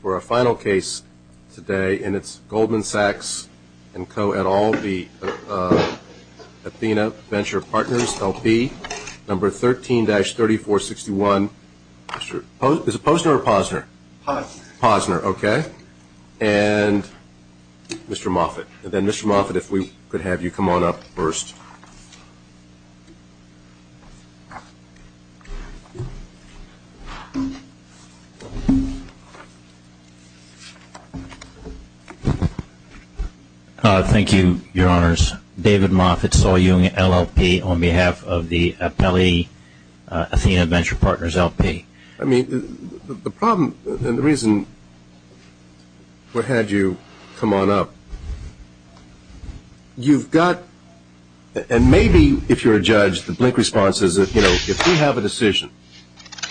For our final case today and it's Goldman Sachs&Co et al. v. Athena Venture Partners LP number 13-3461. Is it Posner or Posner? Posner. Posner, okay. And Mr. Moffitt. And then Mr. Moffitt, if we could have you come on up first. Thank you, Your Honors. David Moffitt, Saul Jung, LLP, on behalf of the Appellee Athena Venture Partners LP. I mean, the problem and the reason we had you come on up. You've got, and maybe if you're a judge, the blink response is, you know, if we have a decision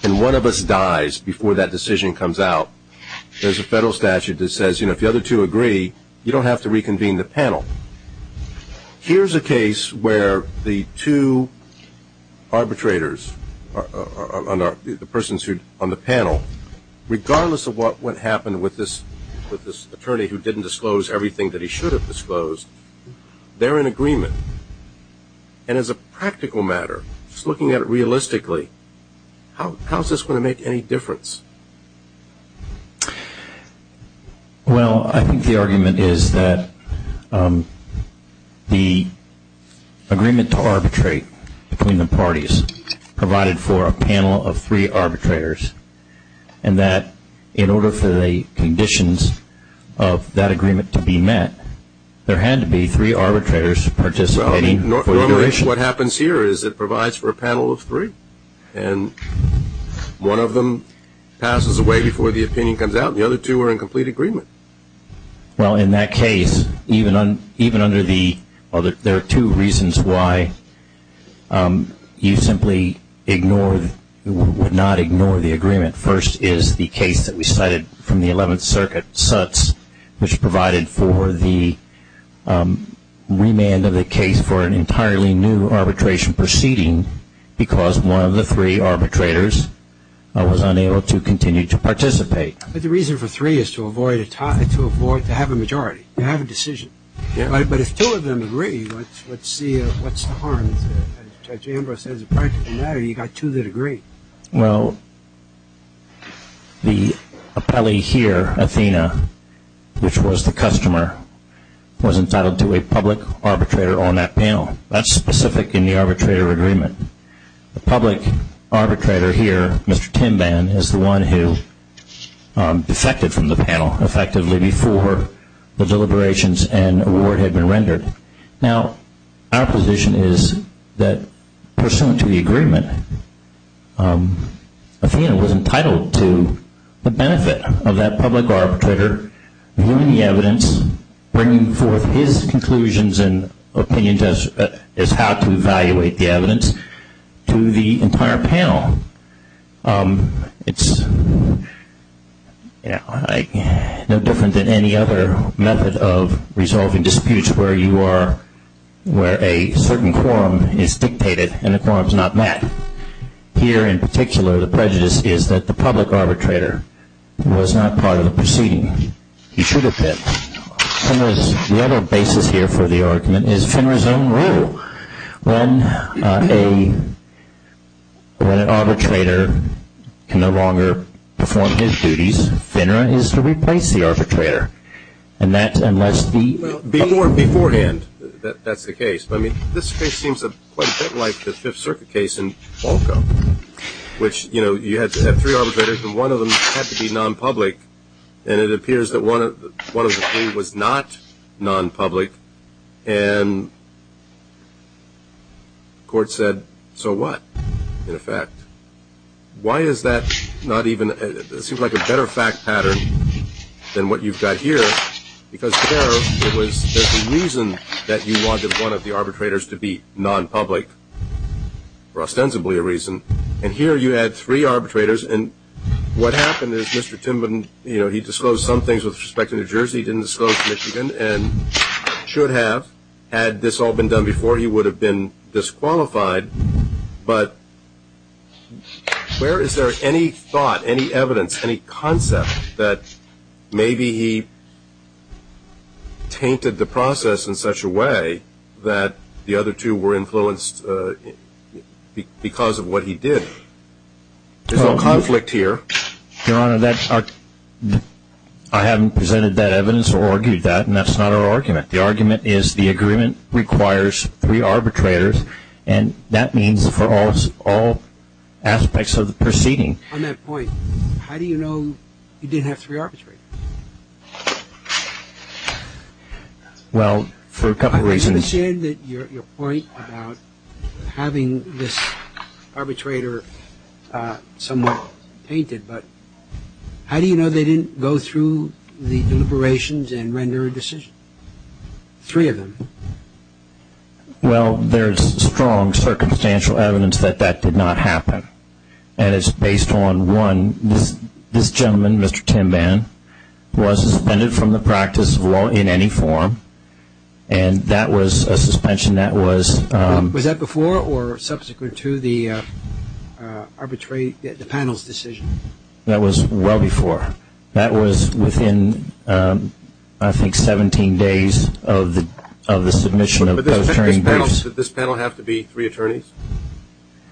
and one of us dies before that decision comes out, there's a federal statute that says, you know, if the other two agree, you don't have to reconvene the panel. Here's a case where the two arbitrators, the persons on the panel, regardless of what happened with this attorney who didn't disclose everything that he should have disclosed, they're in agreement. And as a practical matter, just looking at it realistically, how is this going to make any difference? Well, I think the argument is that the agreement to arbitrate between the parties provided for a panel of three arbitrators, and that in order for the conditions of that agreement to be met, there had to be three arbitrators participating. Normally what happens here is it provides for a panel of three, and one of them passes away before the opinion comes out, and the other two are in complete agreement. Well, in that case, even under the, well, there are two reasons why you simply ignore, would not ignore the agreement. First is the case that we cited from the 11th Circuit, Sutz, which provided for the remand of the case for an entirely new arbitration proceeding because one of the three arbitrators was unable to continue to participate. But the reason for three is to avoid, to have a majority, to have a decision. But if two of them agree, let's see what's the harm. As Judge Ambrose said, as a practical matter, you've got two that agree. Well, the appellee here, Athena, which was the customer, was entitled to a public arbitrator on that panel. That's specific in the arbitrator agreement. The public arbitrator here, Mr. Timban, is the one who defected from the panel effectively before the deliberations and award had been rendered. Now, our position is that pursuant to the agreement, Athena was entitled to the benefit of that public arbitrator viewing the evidence, bringing forth his conclusions and opinions as how to evaluate the evidence to the entire panel. It's no different than any other method of resolving disputes where you are, where a certain quorum is dictated and the quorum is not met. Here, in particular, the prejudice is that the public arbitrator was not part of the proceeding. He should have been. The other basis here for the argument is FINRA's own rule. When an arbitrator can no longer perform his duties, FINRA is to replace the arbitrator. Beforehand, that's the case. This case seems quite a bit like the Fifth Circuit case in Falco, which you had three arbitrators and one of them had to be non-public and it appears that one of the three was not non-public and the court said, so what, in effect? Why is that not even, it seems like a better fact pattern than what you've got here because there was a reason that you wanted one of the arbitrators to be non-public for ostensibly a reason and here you had three arbitrators and what happened is Mr. Timberden, you know, he disclosed some things with respect to New Jersey, he didn't disclose Michigan and should have. Had this all been done before, he would have been disqualified, but where is there any thought, any evidence, any concept that maybe he tainted the process in such a way that the other two were influenced because of what he did? There's no conflict here. Your Honor, I haven't presented that evidence or argued that and that's not our argument. The argument is the agreement requires three arbitrators and that means for all aspects of the proceeding. On that point, how do you know you didn't have three arbitrators? Well, for a couple of reasons. You said that your point about having this arbitrator somewhat painted, but how do you know they didn't go through the deliberations and render a decision? Three of them. Well, there's strong circumstantial evidence that that did not happen and it's based on one, this gentleman, Mr. Timban, was suspended from the practice of law in any form and that was a suspension that was- Was that before or subsequent to the arbitrate, the panel's decision? That was well before. That was within, I think, 17 days of the submission of posturing briefs. Did this panel have to be three attorneys?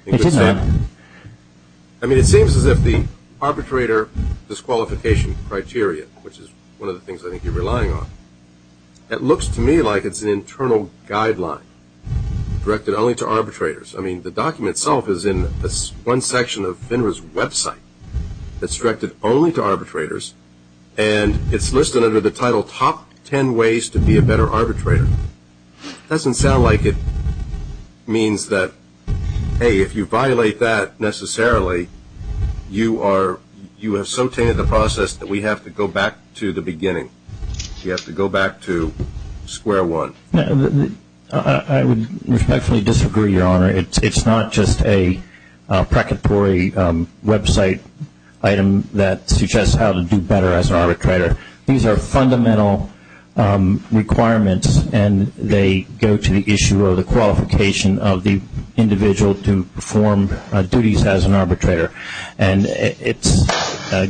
It did not. I mean, it seems as if the arbitrator disqualification criteria, which is one of the things I think you're relying on, it looks to me like it's an internal guideline directed only to arbitrators. I mean, the document itself is in one section of FINRA's website that's directed only to arbitrators and it's listed under the title, Top Ten Ways to Be a Better Arbitrator. It doesn't sound like it means that, hey, if you violate that necessarily, you have so tainted the process that we have to go back to the beginning. You have to go back to square one. I would respectfully disagree, Your Honor. It's not just a precatory website item that suggests how to do better as an arbitrator. These are fundamental requirements, and they go to the issue of the qualification of the individual to perform duties as an arbitrator. And it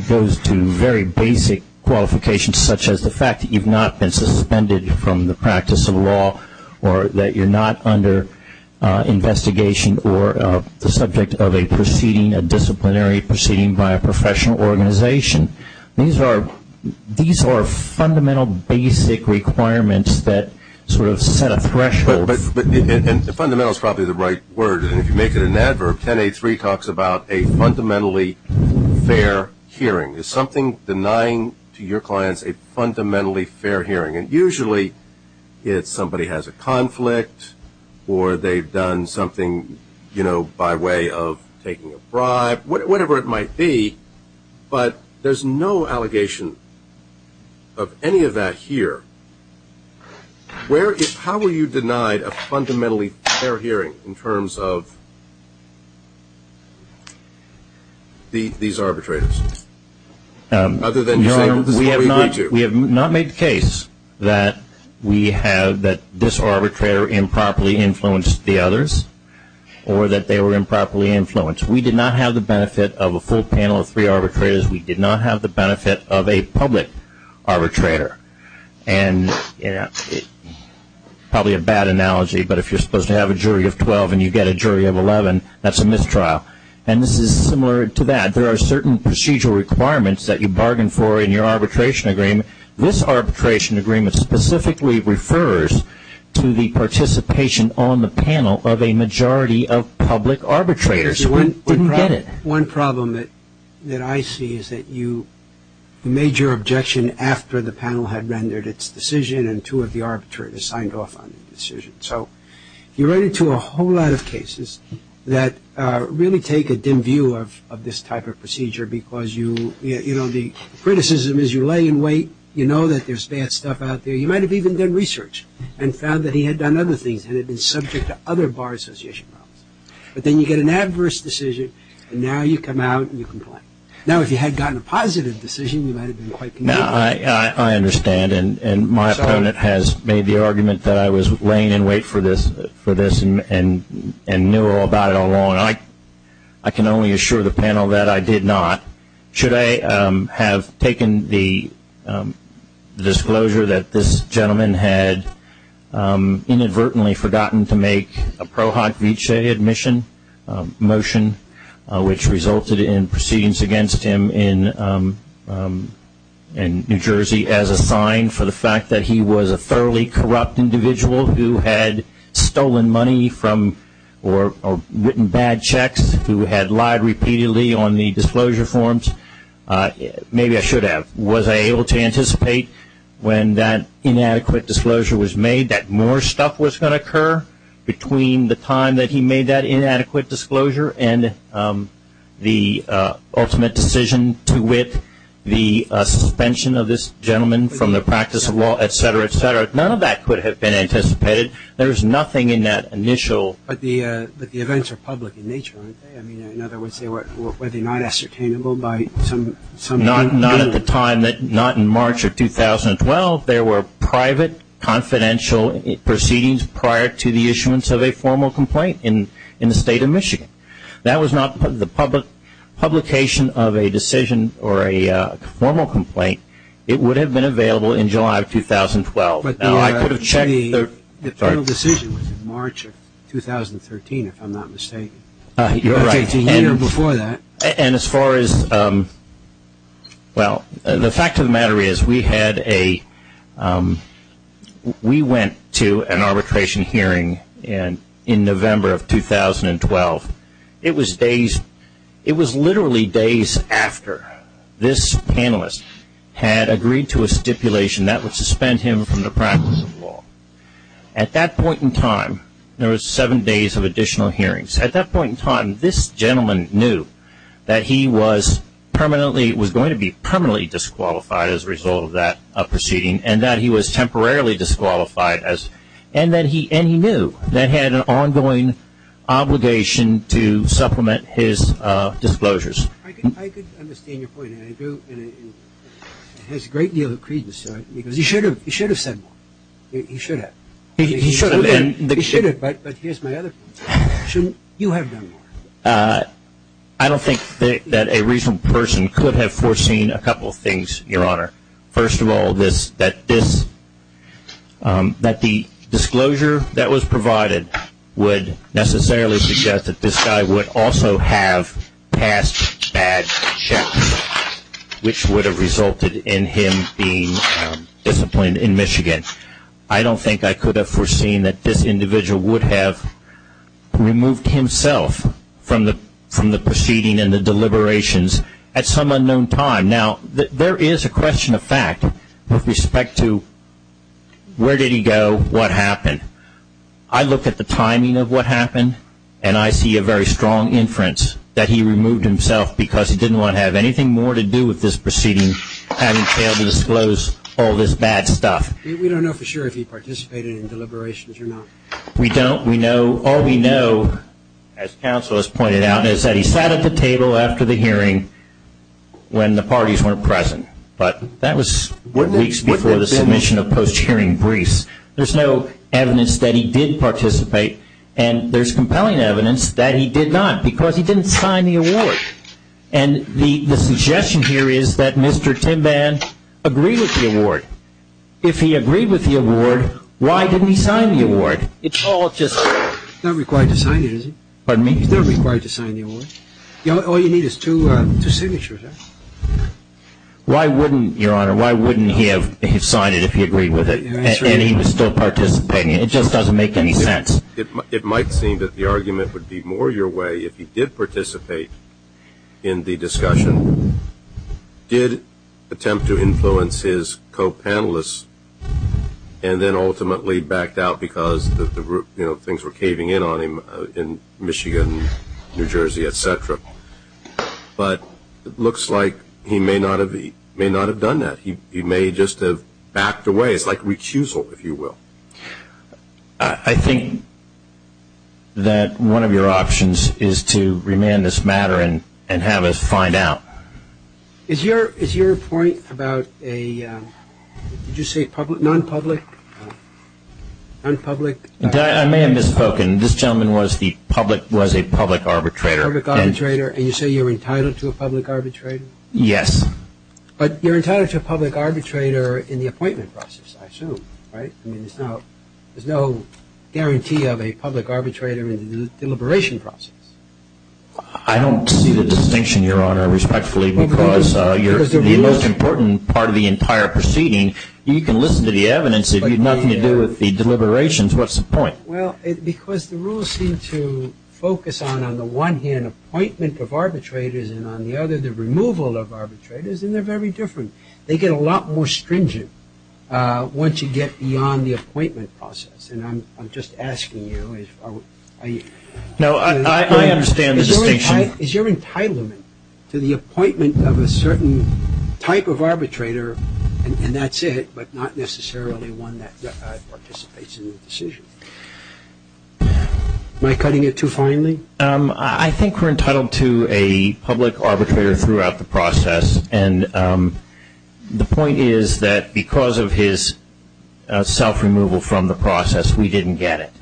goes to very basic qualifications, such as the fact that you've not been suspended from the practice of law or that you're not under investigation or the subject of a disciplinary proceeding by a professional organization. These are fundamental basic requirements that sort of set a threshold. But the fundamental is probably the right word, and if you make it an adverb, 10A3 talks about a fundamentally fair hearing. It's something denying to your clients a fundamentally fair hearing, and usually it's somebody has a conflict or they've done something by way of taking a bribe, whatever it might be, but there's no allegation of any of that here. How were you denied a fundamentally fair hearing in terms of these arbitrators? We have not made the case that this arbitrator improperly influenced the others We did not have the benefit of a full panel of three arbitrators. We did not have the benefit of a public arbitrator. And probably a bad analogy, but if you're supposed to have a jury of 12 and you get a jury of 11, that's a mistrial. And this is similar to that. There are certain procedural requirements that you bargain for in your arbitration agreement. This arbitration agreement specifically refers to the participation on the panel of a majority of public arbitrators. One problem that I see is that you made your objection after the panel had rendered its decision and two of the arbitrators signed off on the decision. So you run into a whole lot of cases that really take a dim view of this type of procedure because you, you know, the criticism is you lay in wait, you know that there's bad stuff out there. You might have even done research and found that he had done other things and had been subject to other bar association problems. But then you get an adverse decision and now you come out and you complain. Now, if you had gotten a positive decision, you might have been quite conducive. Now, I understand, and my opponent has made the argument that I was laying in wait for this and knew all about it all along. I can only assure the panel that I did not. Should I have taken the disclosure that this gentleman had inadvertently forgotten to make a Pro Hoc Vitae admission motion, which resulted in proceedings against him in New Jersey as a sign for the fact that he was a thoroughly corrupt individual who had stolen money from or written bad checks, who had lied repeatedly on the disclosure forms? Maybe I should have. Was I able to anticipate when that inadequate disclosure was made that more stuff was going to occur between the time that he made that inadequate disclosure and the ultimate decision to wit, the suspension of this gentleman from the practice of law, et cetera, et cetera? None of that could have been anticipated. There is nothing in that initial. But the events are public in nature, aren't they? In other words, were they not ascertainable by some? Not at the time, not in March of 2012. There were private, confidential proceedings prior to the issuance of a formal complaint in the State of Michigan. That was not the publication of a decision or a formal complaint. It would have been available in July of 2012. Now, I could have checked. The final decision was in March of 2013, if I'm not mistaken. You're right. A year before that. And as far as, well, the fact of the matter is we had a, we went to an arbitration hearing in November of 2012. It was days, it was literally days after this panelist had agreed to a stipulation that would suspend him from the practice of law. At that point in time, there were seven days of additional hearings. At that point in time, this gentleman knew that he was permanently, was going to be permanently disqualified as a result of that proceeding and that he was temporarily disqualified and that he knew that he had an ongoing obligation to supplement his disclosures. I could understand your point, and I do, and it has a great deal of credence to it, because he should have said more. He should have. He should have. He should have, but here's my other point. Shouldn't you have done more? I don't think that a reasonable person could have foreseen a couple of things, Your Honor. First of all, that this, that the disclosure that was provided would necessarily suggest that this guy would also have passed bad checks, which would have resulted in him being disciplined in Michigan. I don't think I could have foreseen that this individual would have removed himself from the proceeding and the deliberations at some unknown time. Now, there is a question of fact with respect to where did he go, what happened. I look at the timing of what happened, and I see a very strong inference that he removed himself because he didn't want to have anything more to do with this proceeding, having failed to disclose all this bad stuff. We don't know for sure if he participated in deliberations or not. We don't. All we know, as counsel has pointed out, is that he sat at the table after the hearing when the parties weren't present, but that was weeks before the submission of post-hearing briefs. There's no evidence that he did participate, and there's compelling evidence that he did not because he didn't sign the award. And the suggestion here is that Mr. Timban agreed with the award. If he agreed with the award, why didn't he sign the award? It's all just – He's not required to sign it, is he? Pardon me? He's not required to sign the award. All you need is two signatures. Why wouldn't, Your Honor, why wouldn't he have signed it if he agreed with it and he was still participating? It just doesn't make any sense. It might seem that the argument would be more your way if he did participate in the discussion, did attempt to influence his co-panelists, and then ultimately backed out because things were caving in on him in Michigan, New Jersey, et cetera. But it looks like he may not have done that. He may just have backed away. It's like recusal, if you will. I think that one of your options is to remand this matter and have us find out. Is your point about a – did you say non-public? I may have misspoken. This gentleman was a public arbitrator. Public arbitrator, and you say you're entitled to a public arbitrator? Yes. But you're entitled to a public arbitrator in the appointment process, I assume, right? I mean, there's no guarantee of a public arbitrator in the deliberation process. I don't see the distinction, Your Honor, respectfully, because you're the most important part of the entire proceeding. You can listen to the evidence. If you have nothing to do with the deliberations, what's the point? Well, because the rules seem to focus on, on the one hand, appointment of arbitrators, and on the other, the removal of arbitrators, and they're very different. They get a lot more stringent once you get beyond the appointment process. And I'm just asking you. No, I understand the distinction. Is your entitlement to the appointment of a certain type of arbitrator, and that's it, but not necessarily one that participates in the decision? Am I cutting it too finely? Yes. And the point is that because of his self-removal from the process, we didn't get it.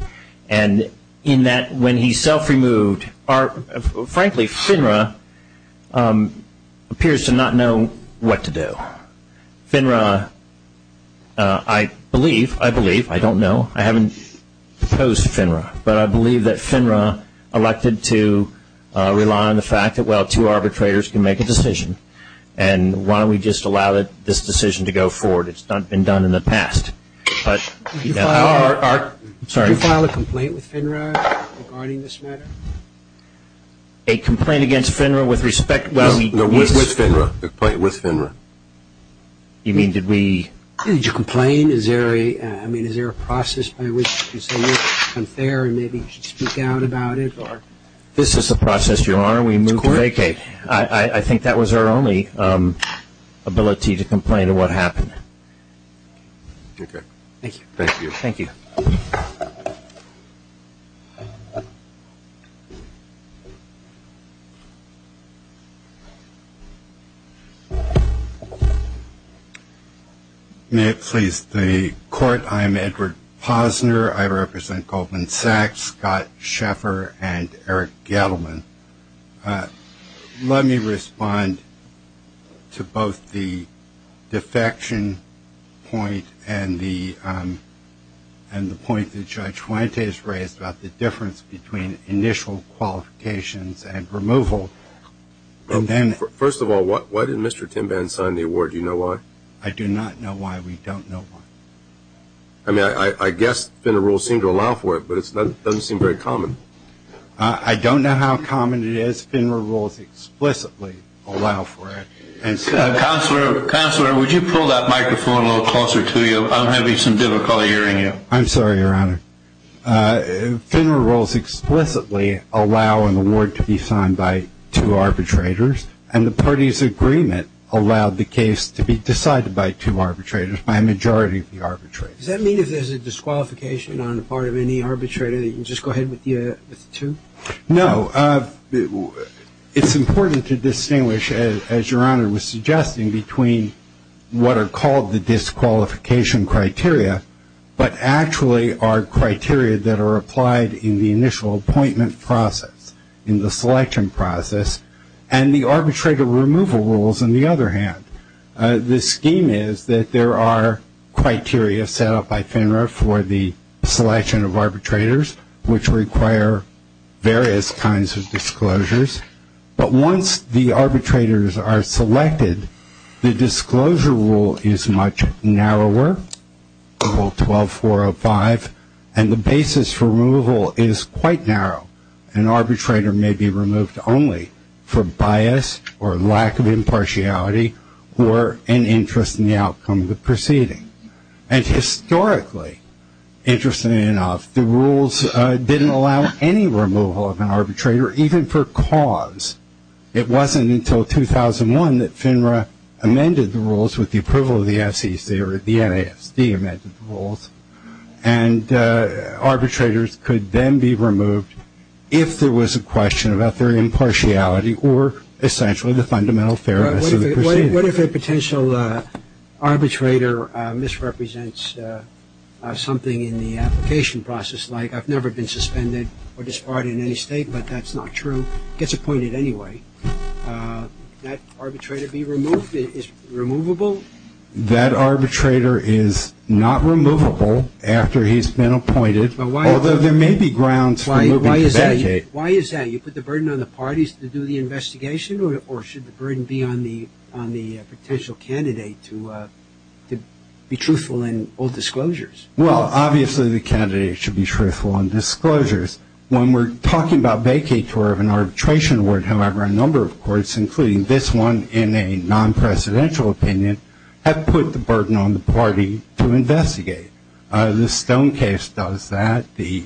And in that, when he self-removed, frankly, FINRA appears to not know what to do. FINRA, I believe, I believe, I don't know, I haven't proposed to FINRA, but I believe that FINRA elected to rely on the fact that, well, two arbitrators can make a decision. And why don't we just allow this decision to go forward? It's been done in the past. Did you file a complaint with FINRA regarding this matter? A complaint against FINRA with respect to the case? No, with FINRA, a complaint with FINRA. You mean, did we? Did you complain? I mean, is there a process by which you say, well, it's unfair, and maybe you should speak out about it? This is the process, Your Honor. We move to vacate. I think that was our only ability to complain of what happened. Okay. Thank you. Thank you. Thank you. Thank you. May it please the Court, I am Edward Posner. I represent Goldman Sachs, Scott Sheffer, and Eric Gettleman. Let me respond to both the defection point and the point that Judge Fuentes raised about the difference between initial qualifications and removal. First of all, why did Mr. Timban sign the award? Do you know why? I do not know why. We don't know why. I mean, I guess FINRA rules seem to allow for it, but it doesn't seem very common. I don't know how common it is. FINRA rules explicitly allow for it. Counselor, would you pull that microphone a little closer to you? I'm having some difficulty hearing you. I'm sorry, Your Honor. FINRA rules explicitly allow an award to be signed by two arbitrators, and the parties' agreement allowed the case to be decided by two arbitrators, by a majority of the arbitrators. Does that mean if there's a disqualification on the part of any arbitrator that you can just go ahead with the two? No. It's important to distinguish, as Your Honor was suggesting, between what are called the disqualification criteria, but actually are criteria that are applied in the initial appointment process, in the selection process, and the arbitrator removal rules, on the other hand. The scheme is that there are criteria set up by FINRA for the selection of arbitrators, which require various kinds of disclosures. But once the arbitrators are selected, the disclosure rule is much narrower, 12405, and the basis for removal is quite narrow. An arbitrator may be removed only for bias or lack of impartiality or an interest in the outcome of the proceeding. And historically, interestingly enough, the rules didn't allow any removal of an arbitrator, even for cause. It wasn't until 2001 that FINRA amended the rules with the approval of the SEC, or the NASD amended the rules, and arbitrators could then be removed if there was a question about their impartiality or essentially the fundamental fairness of the proceeding. What if a potential arbitrator misrepresents something in the application process, like I've never been suspended or disbarred in any state, but that's not true, gets appointed anyway, that arbitrator be removed, is removable? That arbitrator is not removable after he's been appointed, although there may be grounds for moving to vacate. Why is that? You put the burden on the parties to do the investigation, or should the burden be on the potential candidate to be truthful in all disclosures? Well, obviously the candidate should be truthful in disclosures. When we're talking about vacature of an arbitration word, however, there are a number of courts, including this one in a non-presidential opinion, that put the burden on the party to investigate. The Stone case does that. The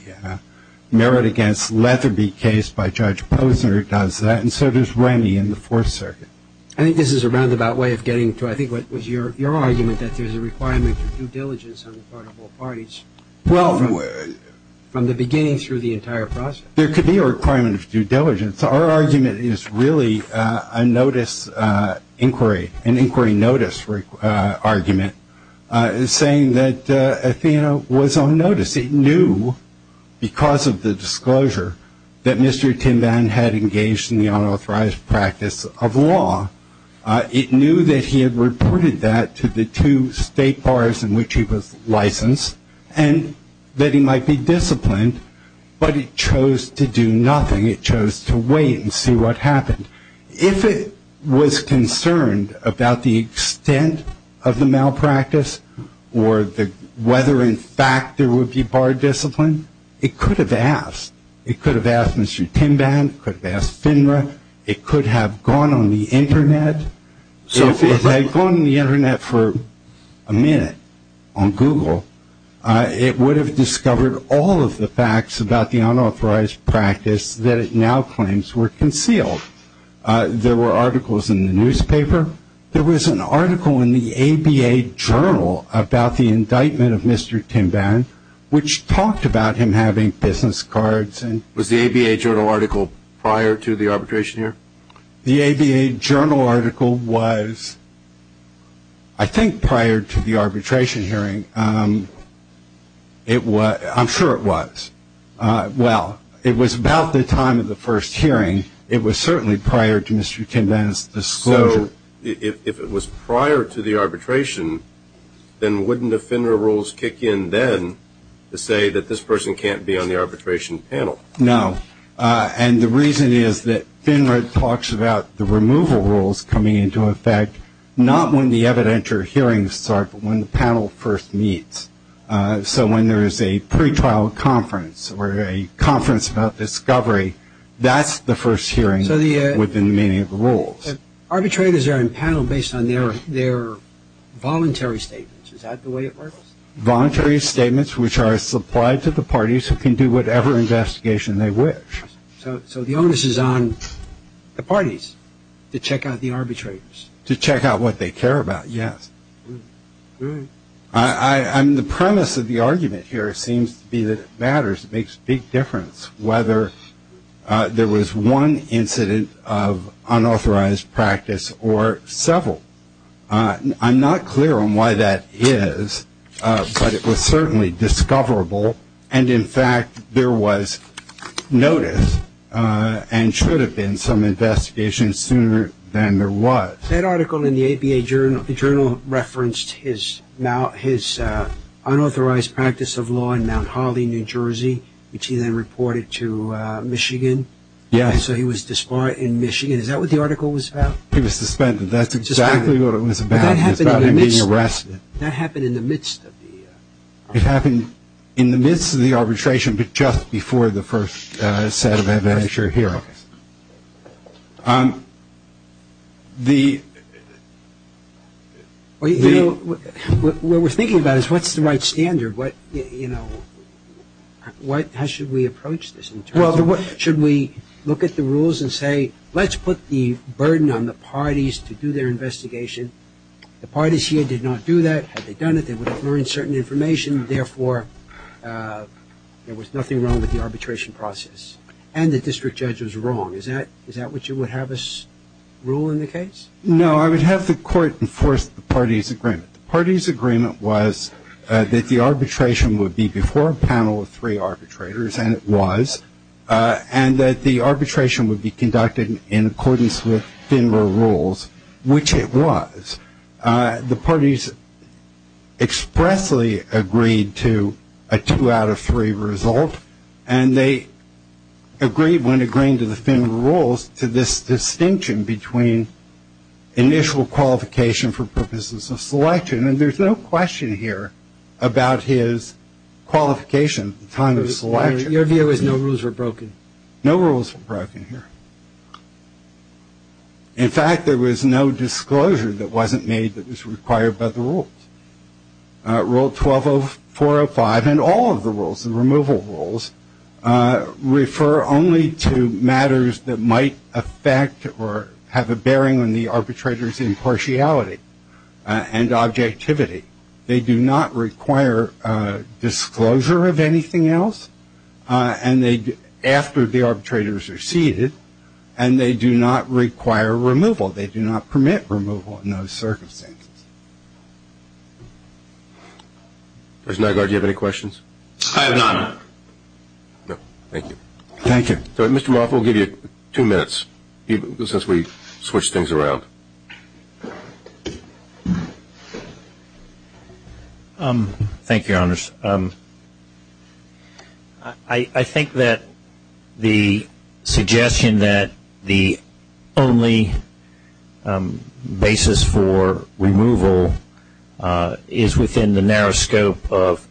Merritt v. Leatherby case by Judge Posner does that. And so does Rennie in the Fourth Circuit. I think this is a roundabout way of getting to I think what was your argument, that there's a requirement of due diligence on the part of all parties from the beginning through the entire process. There could be a requirement of due diligence. Our argument is really a notice inquiry, an inquiry notice argument, saying that Athena was on notice. It knew because of the disclosure that Mr. Tinban had engaged in the unauthorized practice of law. It knew that he had reported that to the two state bars in which he was licensed, and that he might be disciplined, but he chose to do nothing. It chose to wait and see what happened. If it was concerned about the extent of the malpractice or whether in fact there would be bar discipline, it could have asked. It could have asked Mr. Tinban. It could have asked FINRA. It could have gone on the Internet. If it had gone on the Internet for a minute on Google, it would have discovered all of the facts about the unauthorized practice that it now claims were concealed. There were articles in the newspaper. There was an article in the ABA Journal about the indictment of Mr. Tinban, which talked about him having business cards. Was the ABA Journal article prior to the arbitration hearing? The ABA Journal article was, I think, prior to the arbitration hearing. I'm sure it was. Well, it was about the time of the first hearing. It was certainly prior to Mr. Tinban's disclosure. So if it was prior to the arbitration, then wouldn't the FINRA rules kick in then to say that this person can't be on the arbitration panel? No. And the reason is that FINRA talks about the removal rules coming into effect not when the evidentiary hearings start but when the panel first meets. So when there is a pretrial conference or a conference about discovery, that's the first hearing within the meaning of the rules. Arbitrators are in panel based on their voluntary statements. Is that the way it works? Voluntary statements which are supplied to the parties who can do whatever investigation they wish. So the onus is on the parties to check out the arbitrators? To check out what they care about, yes. The premise of the argument here seems to be that it matters. It makes a big difference whether there was one incident of unauthorized practice or several. I'm not clear on why that is, but it was certainly discoverable, and in fact there was notice and should have been some investigation sooner than there was. That article in the APA Journal referenced his unauthorized practice of law in Mount Holly, New Jersey, which he then reported to Michigan. Yes. So he was disbarred in Michigan. Is that what the article was about? He was suspended. That's exactly what it was about. It was about him being arrested. That happened in the midst of the? It happened in the midst of the arbitration, but just before the first set of evidentiary hearings. What we're thinking about is what's the right standard? How should we approach this? Should we look at the rules and say let's put the burden on the parties to do their investigation? The parties here did not do that. Had they done it, they would have learned certain information. Therefore, there was nothing wrong with the arbitration process, and the district judge was wrong. Is that what you would have us rule in the case? No. I would have the court enforce the parties' agreement. The parties' agreement was that the arbitration would be before a panel of three arbitrators, and it was, and that the arbitration would be conducted in accordance with FINRA rules, which it was. The parties expressly agreed to a two out of three result, and they agreed when agreeing to the FINRA rules to this distinction between initial qualification for purposes of selection, and there's no question here about his qualification at the time of selection. Your view is no rules were broken? No rules were broken here. In fact, there was no disclosure that wasn't made that was required by the rules. Rule 120405 and all of the rules, the removal rules, refer only to matters that might affect or have a bearing on the arbitrator's impartiality and objectivity. They do not require disclosure of anything else after the arbitrators are seated, and they do not require removal. They do not permit removal in those circumstances. Judge Nygaard, do you have any questions? I have none. No. Thank you. Thank you. Mr. Moffitt, we'll give you two minutes since we switched things around. Thank you, Your Honors. I think that the suggestion that the only basis for removal is within the narrow scope of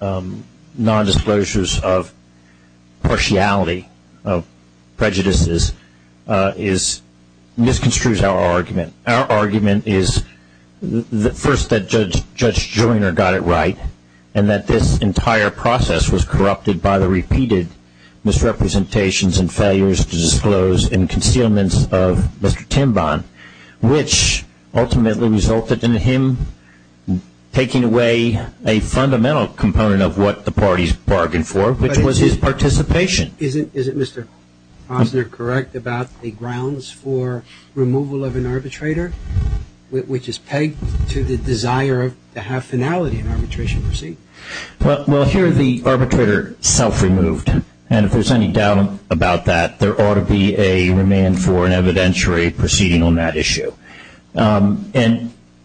nondisclosures of partiality, of prejudices, misconstrues our argument. Our argument is first that Judge Joyner got it right and that this entire process was corrupted by the repeated misrepresentations and failures to disclose and concealments of Mr. Timbon, which ultimately resulted in him taking away a fundamental component of what the parties bargained for, which was his participation. Isn't Mr. Posner correct about the grounds for removal of an arbitrator, which is pegged to the desire to have finality in arbitration proceedings? Well, here the arbitrator self-removed, and if there's any doubt about that, there ought to be a remand for an evidentiary proceeding on that issue.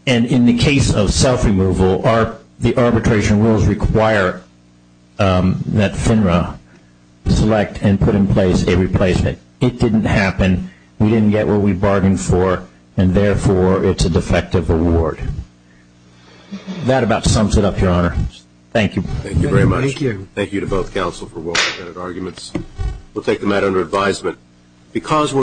And in the case of self-removal, the arbitration rules require that FINRA select and put in place a replacement. It didn't happen. We didn't get what we bargained for, and therefore it's a defective award. That about sums it up, Your Honor. Thank you. Thank you very much. Thank you. Thank you to both counsel for well-intended arguments. We'll take the matter under advisement.